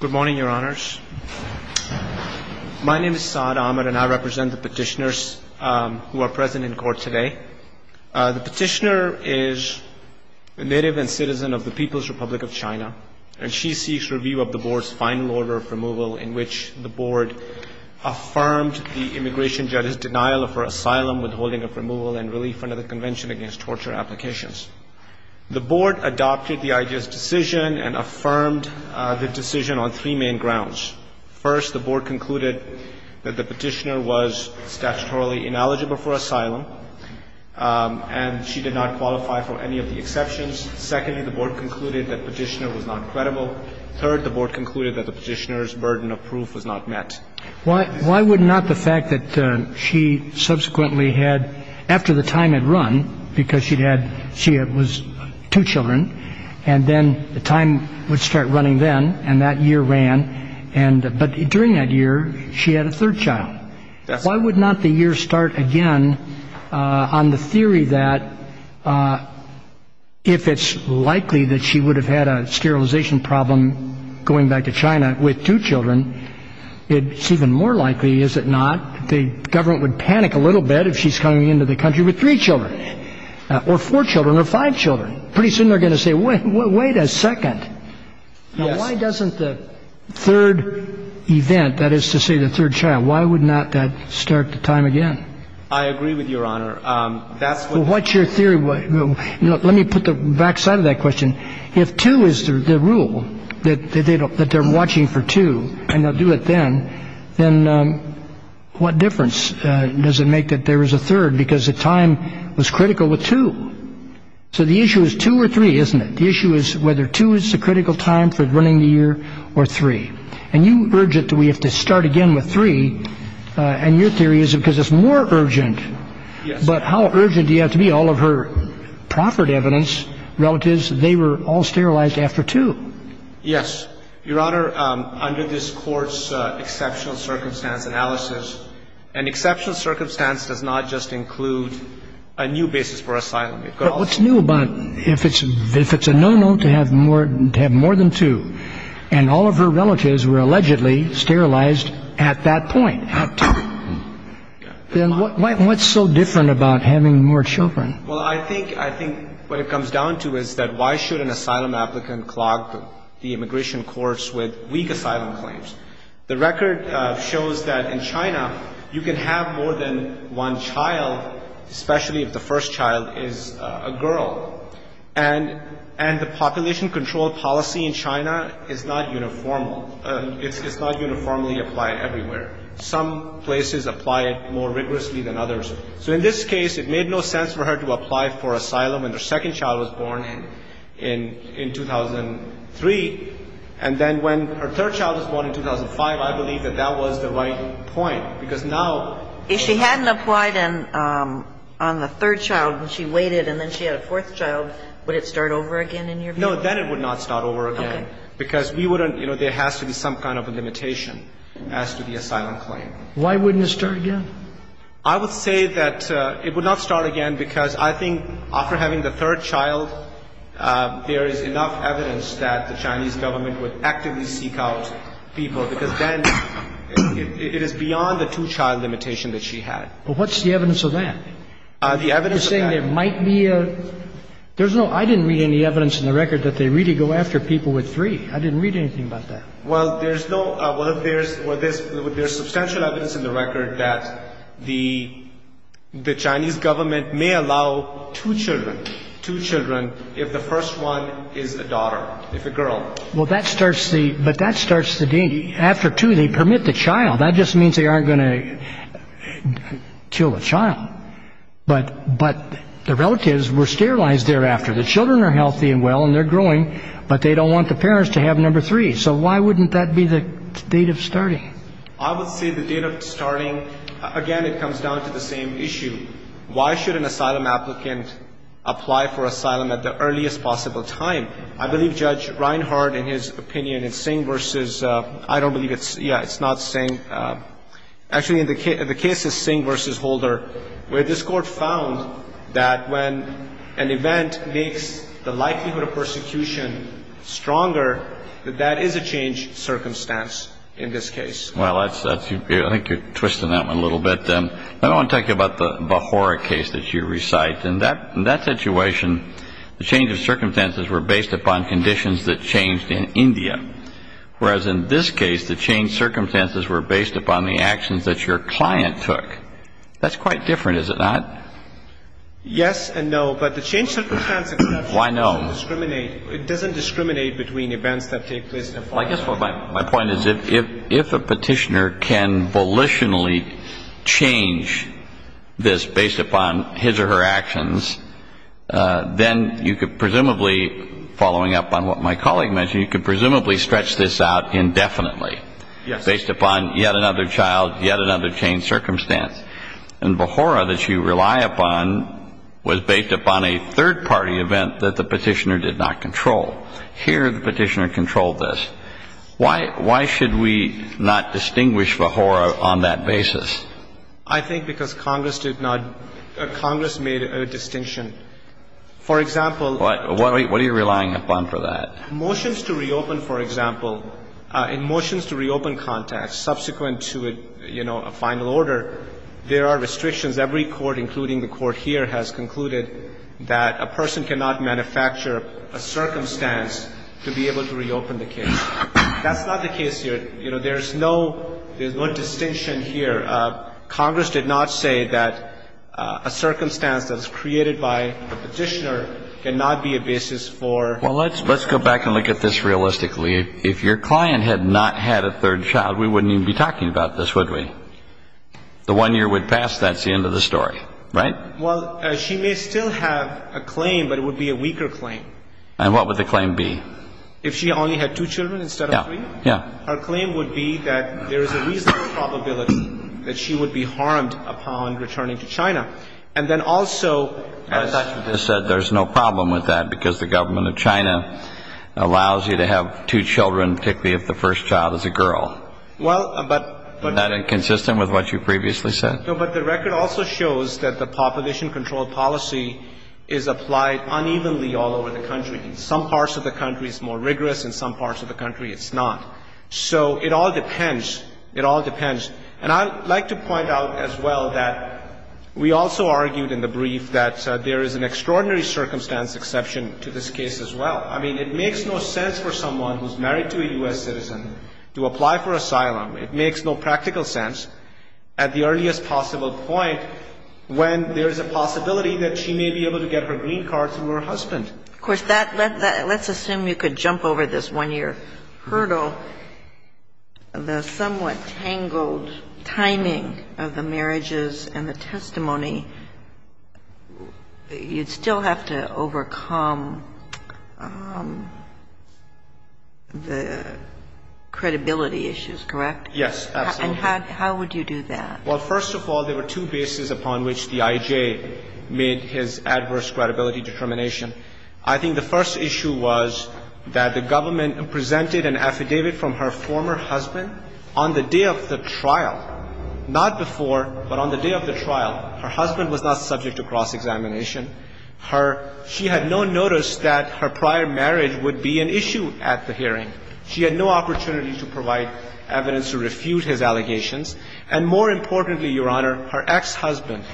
Good morning, Your Honors. My name is Saad Ahmed, and I represent the petitioners who are present in court today. The petitioner is a native and citizen of the People's Republic of China, and she seeks review of the Board's final order of removal in which the Board affirmed the immigration judge's denial of her asylum, withholding of removal, and relief under the Convention Against Torture Applications. The Board adopted the idea's decision and affirmed the decision on three main grounds. First, the Board concluded that the petitioner was statutorily ineligible for asylum, and she did not qualify for any of the exceptions. Secondly, the Board concluded that the petitioner was not credible. Third, the Board concluded that the petitioner's burden of proof was not met. Why would not the fact that she subsequently had, after the time had run, because she'd had, she had, was two children, and then the time would start running then, and that year ran, and, but during that year, she had a third child. Why would not the year start again on the theory that if it's likely that she would have had a sterilization problem going back to China with two children, it's even more likely, is it not, the government would panic a little bit if she's coming into the country with three children, or four children, or five children. Pretty soon they're going to say, wait a second, why doesn't the third event, that is to say the third child, why would not that start the time again? I agree with Your Honor. That's what What's your theory? Let me put the back side of that question. If two is the rule, that does it make that there was a third, because the time was critical with two. So the issue is two or three, isn't it? The issue is whether two is the critical time for running the year, or three. And you urge it that we have to start again with three, and your theory is because it's more urgent. Yes. But how urgent do you have to be? All of her proffered evidence, relatives, they were all sterilized after two. Yes. Your Honor, under this Court's exceptional circumstance analysis, an exceptional circumstance does not just include a new basis for asylum. But what's new about, if it's a no-no to have more than two, and all of her relatives were allegedly sterilized at that point, at two, then what's so different about having more children? Well, I think what it comes down to is that why should an assailant have more than one child? The standard shows that in China, you can have more than one child, especially if the first child is a girl. And the population control policy in China is not uniform. It's not uniformly applied everywhere. Some places apply it more rigorously than others. So in this case, it made no sense for her to apply for asylum when her second child was born in 2003. And then when her third child was born in 2005, I believe that that was the right point, because now we're not going to be able to have more than one child. If she hadn't applied on the third child and she waited and then she had a fourth child, would it start over again in your view? No. Then it would not start over again. Okay. Because we wouldn't – you know, there has to be some kind of a limitation as to the asylum claim. Why wouldn't it start again? I would say that it would not start again because I think after having the third child, there is enough evidence that the Chinese government would actively seek out people, because then it is beyond the two-child limitation that she had. But what's the evidence of that? The evidence of that – You're saying there might be a – there's no – I didn't read any evidence in the record that they really go after people with three. I didn't read anything about that. Well, there's no – well, there's – there's substantial evidence in the record that the Chinese government may allow two children, two children, if the first one is a daughter, if a girl. Well, that starts the – but that starts the – after two, they permit the child. That just means they aren't going to kill the child. But – but the relatives were sterilized thereafter. The children are healthy and well and they're growing, but they don't want the parents to have number three. So why wouldn't that be the date of starting? I would say the date of starting – again, it comes down to the same issue. Why should an asylum applicant apply for asylum at the earliest possible time? I believe Judge Reinhart, in his opinion, in Singh versus – I don't believe it's – yeah, it's not Singh. Actually, in the case of Singh versus Holder, where this Court found that when an event makes the likelihood of persecution stronger, that that is a changed circumstance in this case. Well, that's – I think you're twisting that one a little bit. I don't want to talk to you about the Bahura case that you recite. In that – in that situation, the change of circumstances were based upon conditions that changed in India. Whereas in this case, the changed circumstances were based upon the actions that your client took. That's quite different, is it not? Yes and no. But the changed circumstances exception doesn't discriminate. Why no? It doesn't discriminate between events that take place in a foreign country. Well, I guess my point is if a petitioner can volitionally change this based upon his or her actions, then you could presumably, following up on what my colleague mentioned, you could presumably stretch this out indefinitely based upon yet another child, yet another changed circumstance. And Bahura that you rely upon was based upon a third-party event that the petitioner did not control. Here, the petitioner controlled this. Why should we not distinguish Bahura on that basis? I think because Congress did not – Congress made a distinction. For example – What are you relying upon for that? Motions to reopen, for example, in motions to reopen context subsequent to, you know, a final order, there are restrictions. Every court, including the court here, has concluded that a person cannot manufacture a circumstance to be able to reopen the case. That's not the case here. You know, there's no distinction here. Congress did not say that a circumstance that was created by the petitioner cannot be a basis for – Well, let's go back and look at this realistically. If your client had not had a third child, we wouldn't even be talking about this, would we? The one year would pass, that's the end of the story, right? Well, she may still have a claim, but it would be a weaker claim. And what would the claim be? If she only had two children instead of three? Yeah. Her claim would be that there is a reasonable probability that she would be harmed upon returning to China. And then also – As you just said, there's no problem with that because the government of China allows you to have two children, particularly if the first child is a girl. Well, but – Isn't that inconsistent with what you previously said? No, but the record also shows that the population control policy is applied unevenly all over the country. In some parts of the country, it's more rigorous. In some parts of the country, it's not. So it all depends. It all depends. And I'd like to point out as well that we also argued in the brief that there is an extraordinary circumstance exception to this case as well. I mean, it makes no sense for someone who's married to a U.S. citizen to apply for asylum. It makes no practical sense at the earliest possible point when there is a possibility that she may be able to get her green card through her husband. Of course, that – let's assume you could jump over this one-year hurdle. The somewhat tangled timing of the marriages and the testimony, you'd still have to overcome the credibility issues, correct? Yes, absolutely. And how would you do that? Well, first of all, there were two bases upon which the IJ made his adverse credibility determination. I think the first issue was that the government presented an affidavit from her former husband on the day of the trial. Not before, but on the day of the trial, her husband was not subject to cross-examination. Her – she had no notice that her prior marriage would be an issue at the hearing. She had no opportunity to provide evidence to refute his allegations. And more importantly, Your Honor, her ex-husband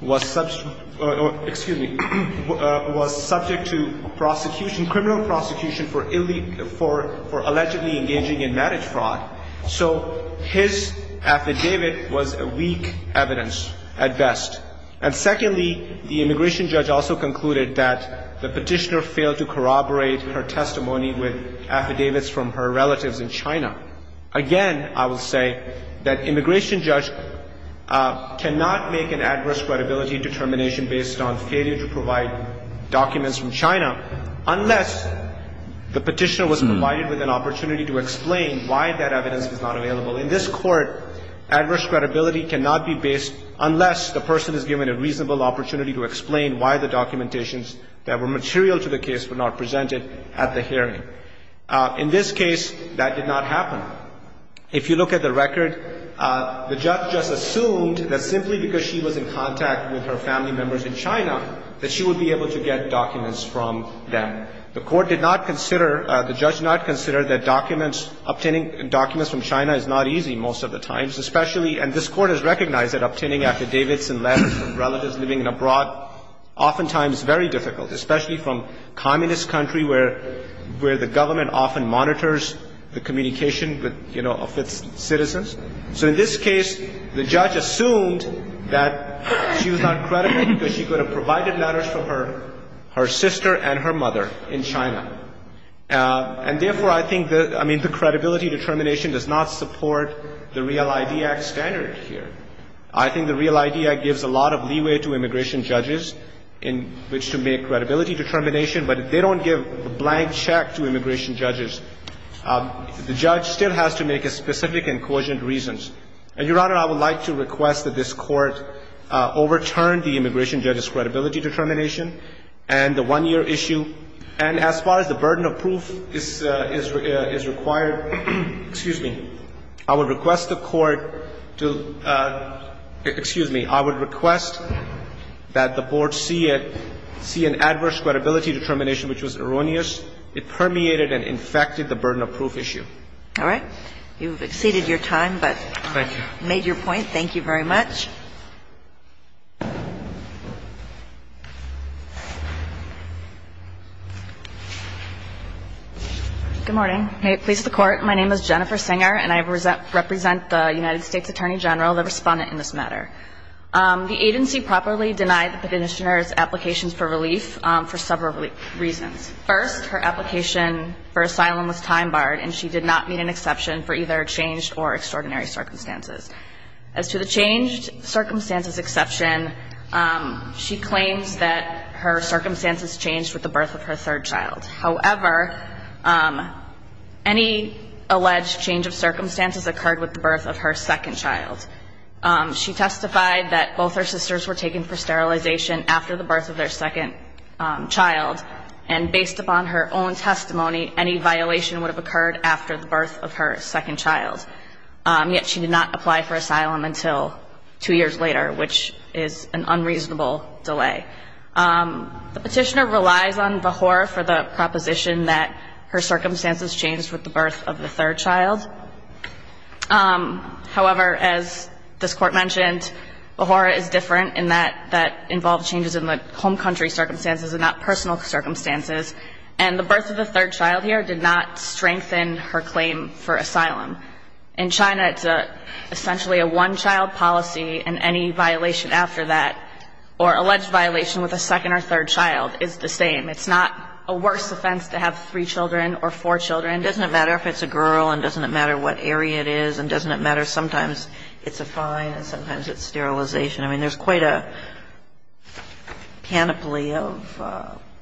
was – excuse me – was subject to prosecution, criminal prosecution, for allegedly engaging in marriage fraud. So his affidavit was a weak evidence at best. And secondly, the immigration judge also concluded that the petitioner failed to corroborate her testimony with affidavits from her relatives in China. Again, I will say that immigration judge cannot make an adverse credibility determination based on failure to provide documents from China unless the petitioner was provided with an opportunity to explain why that evidence is not available. In this court, adverse credibility cannot be based unless the person is given a reasonable opportunity to explain why the documentations that were material to the case were not presented at the hearing. In this case, that did not happen. If you look at the record, the judge just assumed that simply because she was in contact with her family members in China that she would be able to get documents from them. The court did not consider – the judge did not consider that documents – obtaining documents from China is not easy most of the times, especially – and this Court has recognized that obtaining affidavits and letters from relatives living abroad oftentimes very difficult, especially from communist country where – where the So in this case, the judge assumed that she was not credible because she could have provided letters from her – her sister and her mother in China. And therefore, I think the – I mean, the credibility determination does not support the Real ID Act standard here. I think the Real ID Act gives a lot of leeway to immigration judges in which to make credibility determination, but if they don't give a blank check to And, Your Honor, I would like to request that this Court overturn the immigration judge's credibility determination and the one-year issue. And as far as the burden of proof is – is required, excuse me, I would request the Court to – excuse me, I would request that the Board see it – see an adverse credibility determination which was erroneous. It permeated and infected the burden of proof issue. All right. You've exceeded your time, but made your point. Thank you very much. Good morning. May it please the Court, my name is Jennifer Singer and I represent the United States Attorney General, the respondent in this matter. The agency properly denied the Petitioner's applications for relief for several reasons. First, her application for asylum was time barred and she did not meet an exception for either changed or extraordinary circumstances. As to the changed circumstances exception, she claims that her circumstances changed with the birth of her third child. However, any alleged change of circumstances occurred with the birth of her second child. She testified that both her sisters were taken for sterilization after the birth of their second child and based upon her own testimony, any violation would have occurred after the birth of her second child. Yet, she did not apply for asylum until two years later, which is an unreasonable delay. The Petitioner relies on VAHORA for the proposition that her circumstances changed with the birth of the third child. However, as this Court mentioned, VAHORA is different in that that involved changes in the home country circumstances and not personal circumstances. And the birth of the third child here did not strengthen her claim for asylum. In China, it's essentially a one child policy and any violation after that or alleged violation with a second or third child is the same. It's not a worse offense to have three children or four children. Doesn't it matter if it's a girl and doesn't it matter what area it is and doesn't it matter? Sometimes it's a fine and sometimes it's sterilization. I mean, there's quite a canopy of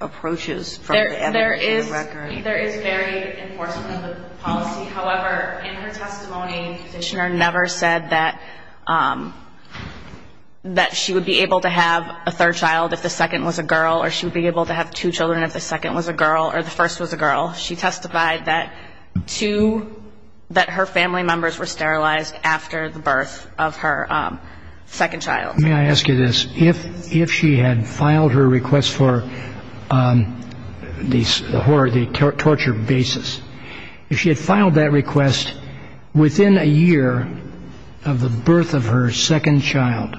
approaches from the advocate record. There is very enforcement of the policy. However, in her testimony, the Petitioner never said that she would be able to have a third child if the second was a girl or she would be able to have two children if the second was a girl or the first was a girl. She testified that two, that her family members were sterilized after the birth of her second child. May I ask you this? If she had filed her request for the torture basis, if she had filed that request within a year of the birth of her second child,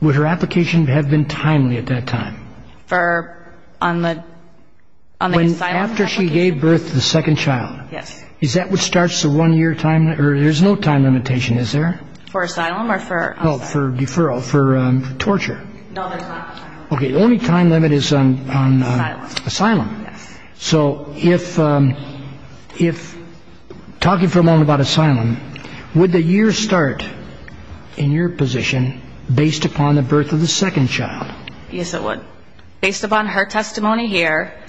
would her application have been timely at that time? After she gave birth to the second child, is that what starts the one-year time limit? There's no time limitation, is there? For asylum or for asylum? No, for deferral, for torture. No, there's not. Okay, the only time limit is on asylum. So if, talking for a moment about asylum, would the year start in your position based upon the birth of the second child? Yes, it would. Based upon her testimony here,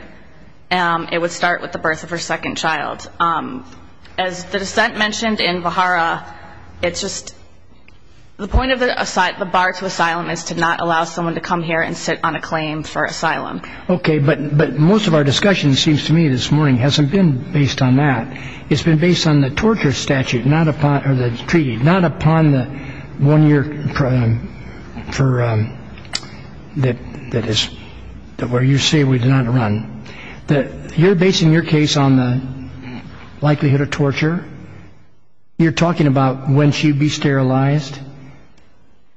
it would start with the birth of her second child. As the dissent mentioned in Bahara, it's just, the point of the bar to asylum is to not allow someone to come here and sit on a claim for asylum. Okay, but most of our discussion seems to me this morning hasn't been based on that. It's been based on the torture statute, not upon, or the treaty, not upon the one-year, for, that is, where you say we do not run. You're basing your case on the likelihood of torture. You're talking about when she'd be sterilized.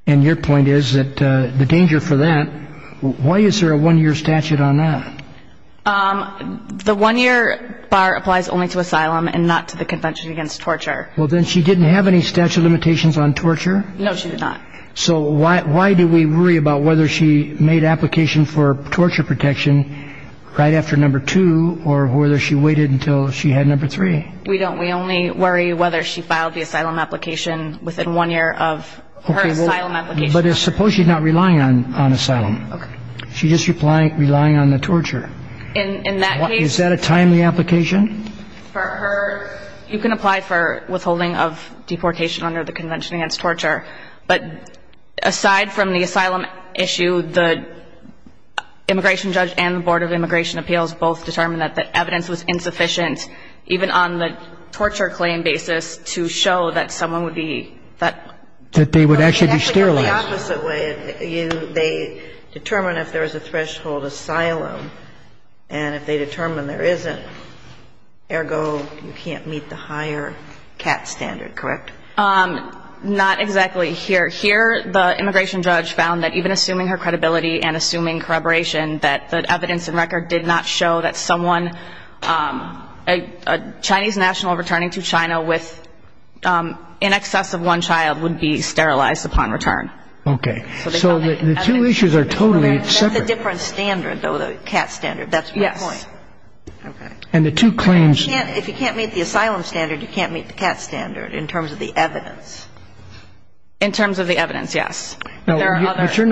And your point is that the danger for that, why is there a one-year statute on that? The one-year bar applies only to asylum and not to the Convention Against Torture. Well, then she didn't have any statute of limitations on torture? No, she did not. So why do we worry about whether she made application for torture protection right after number two, or whether she waited until she had number three? We don't. We only worry whether she filed the asylum application within one year of her asylum application. But suppose she's not relying on asylum. She's just relying on the torture. In that case... Is that a timely application? You can apply for withholding of deportation under the Convention Against Torture, but aside from the asylum issue, the immigration judge and the Board of Immigration Appeals both determined that the evidence was insufficient, even on the torture claim basis, to show that someone would be... That they would actually be sterilized. They determine if there is a threshold asylum, and if they determine there isn't, ergo, you can't meet the higher CAT standard, correct? Not exactly. Here, the immigration judge found that even assuming her credibility and assuming corroboration, that the evidence and record did not show that someone, a Chinese national returning to China with in excess of one child would be sterilized upon return. Okay. So the two issues are totally separate. That's a different standard, though, the CAT standard. That's my point. Yes. And the two claims... If you can't meet the asylum standard, you can't meet the CAT standard in terms of the evidence. In terms of the evidence, yes. No, but you're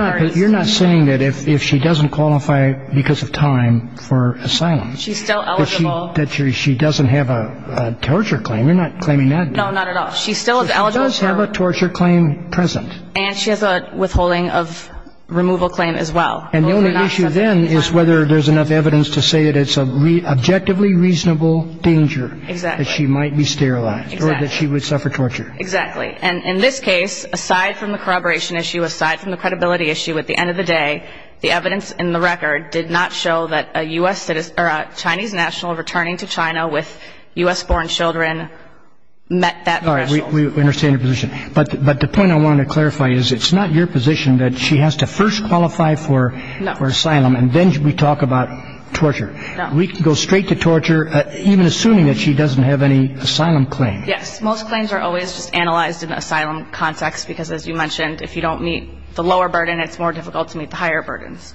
not saying that if she doesn't qualify because of time for asylum... That she doesn't have a torture claim. You're not claiming that. No, not at all. She's still eligible for... She does have a torture claim present. And she has a withholding of removal claim as well. And the only issue then is whether there's enough evidence to say that it's an objectively reasonable danger that she might be sterilized or that she would suffer torture. Exactly. And in this case, aside from the corroboration issue, aside from the credibility issue, at the end of the day, the evidence in the record did not show that a Chinese national returning to China with U.S.-born children met that threshold. All right. We understand your position. But the point I wanted to clarify is it's not your position that she has to first qualify for asylum... No. ...and then we talk about torture. No. We can go straight to torture, even assuming that she doesn't have any asylum claim. Yes. Most claims are always just analyzed in an asylum context because, as you mentioned, if you don't meet the lower burden, it's more difficult to meet the higher burdens.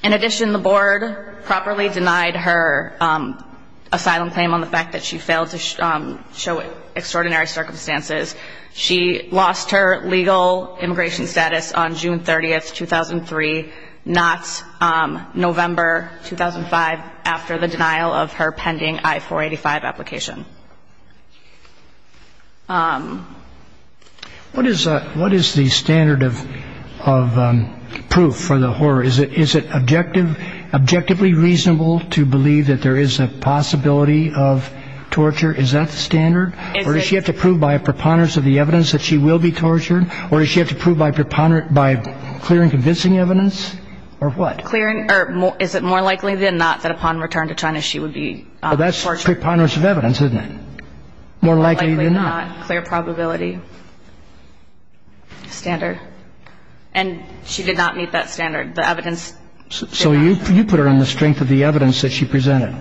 In addition, the board properly denied her asylum claim on the fact that she failed to show extraordinary circumstances. She lost her legal immigration status on June 30, 2003, not November 2005, after the denial of her pending I-485 application. What is the standard of proof for the horror? Is it objectively reasonable to believe that there is a possibility of torture? Is that the standard? Is it... Or does she have to prove by a preponderance of the evidence that she will be tortured? Or does she have to prove by clear and convincing evidence? Or what? Clear and... Or is it more likely than not that upon return to China she would be tortured? Well, that's preponderance of evidence, isn't it? More likely than not. More likely than not. Clear probability. Standard. And she did not meet that standard. The evidence... So you put her on the strength of the evidence that she presented.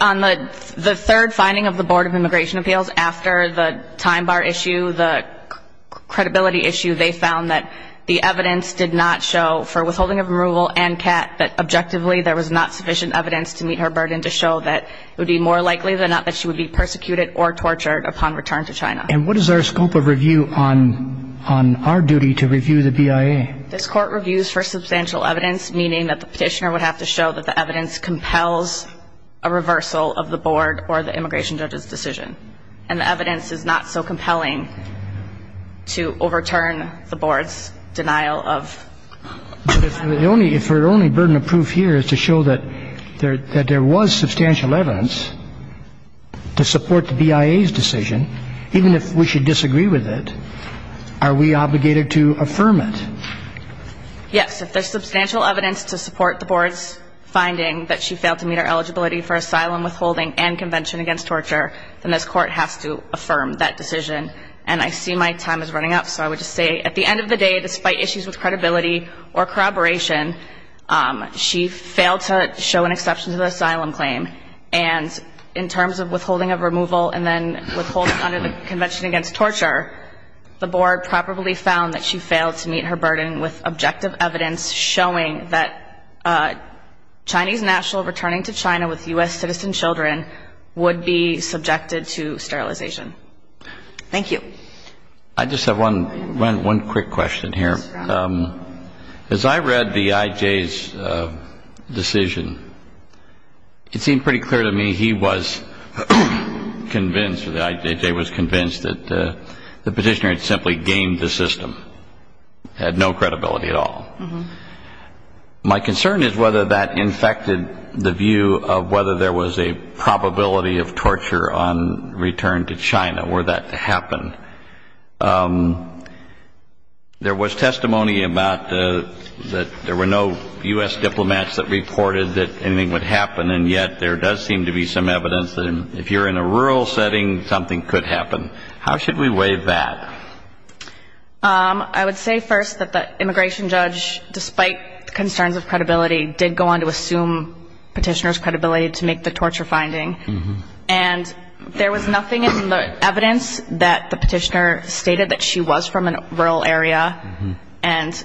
On the third finding of the Board of Immigration Appeals, after the time bar issue, the credibility issue, they found that the evidence did not show, for withholding of removal and CAT, that objectively there was not sufficient evidence to meet her burden to show that it would be more likely than not that she would be persecuted or tortured upon return to China. And what is our scope of review on our duty to review the BIA? This Court reviews for substantial evidence, meaning that the petitioner would have to show that the evidence compels a reversal of the Board or the immigration judge's decision. And the evidence is not so compelling to overturn the Board's denial of... But if her only burden of proof here is to show that there was substantial evidence to support the BIA's decision, even if we should disagree with it, are we obligated to affirm it? Yes. If there's substantial evidence to support the Board's finding that she failed to meet her eligibility for asylum, withholding, and convention against torture, then this Court has to affirm that decision. And I see my time is running out, so I would just say, at the end of the day, despite issues with credibility or corroboration, she failed to show an exception to the asylum claim. And in terms of withholding of removal and then withholding under the convention against torture, the Board probably found that she failed to meet her burden with objective evidence showing that Chinese national returning to China with U.S. citizen children would be subjected to sterilization. Thank you. I just have one quick question here. As I read the IJ's decision, it seemed pretty clear to me he was convinced, or the IJJ was convinced, that the petitioner had simply gamed the system, had no credibility at all. My concern is whether that infected the view of whether there was a probability of torture on return to China were that to happen. There was testimony about that there were no U.S. diplomats that reported that anything would happen, and yet there does seem to be some evidence that if you're in a rural setting, something could happen. How should we weigh that? I would say first that the immigration judge, despite concerns of credibility, did go on to assume petitioner's credibility to make the torture finding. And there was nothing in the evidence that the petitioner stated that she was from a rural area. And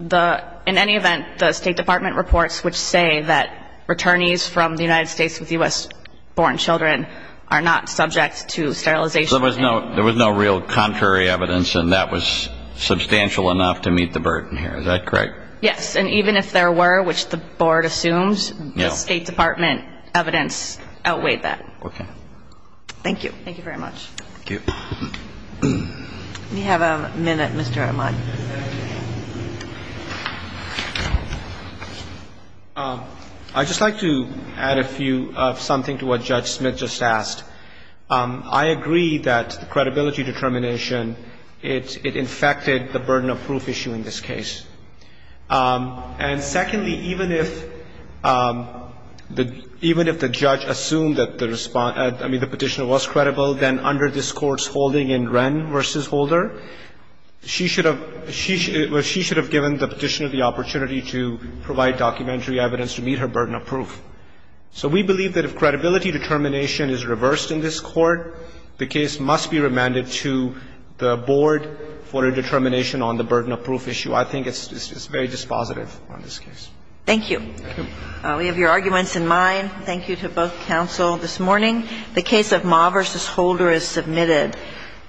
in any event, the State Department reports would say that returnees from the United States with U.S. born children are not subject to sterilization. There was no real contrary evidence, and that was substantial enough to meet the burden here. Is that correct? Yes, and even if there were, which the Board assumes, the State Department evidence outweighed that. Okay. Thank you. Thank you very much. Thank you. We have a minute, Mr. Ahmad. I'd just like to add a few, something to what Judge Smith just asked. I agree that the credibility determination, it infected the burden of proof issue in this case. And secondly, even if the judge assumed that the petitioner was credible, then under this Court's holding in Wren v. Holder, she should have given the petitioner the opportunity to provide documentary evidence to meet her burden of proof. So we believe that if credibility determination is reversed in this Court, the case must be remanded to the Board for a determination on the burden of proof issue. I think it's very dispositive on this case. Thank you. Thank you. We have your arguments in mind. Thank you to both counsel this morning. The case of Ma v. Holder is submitted.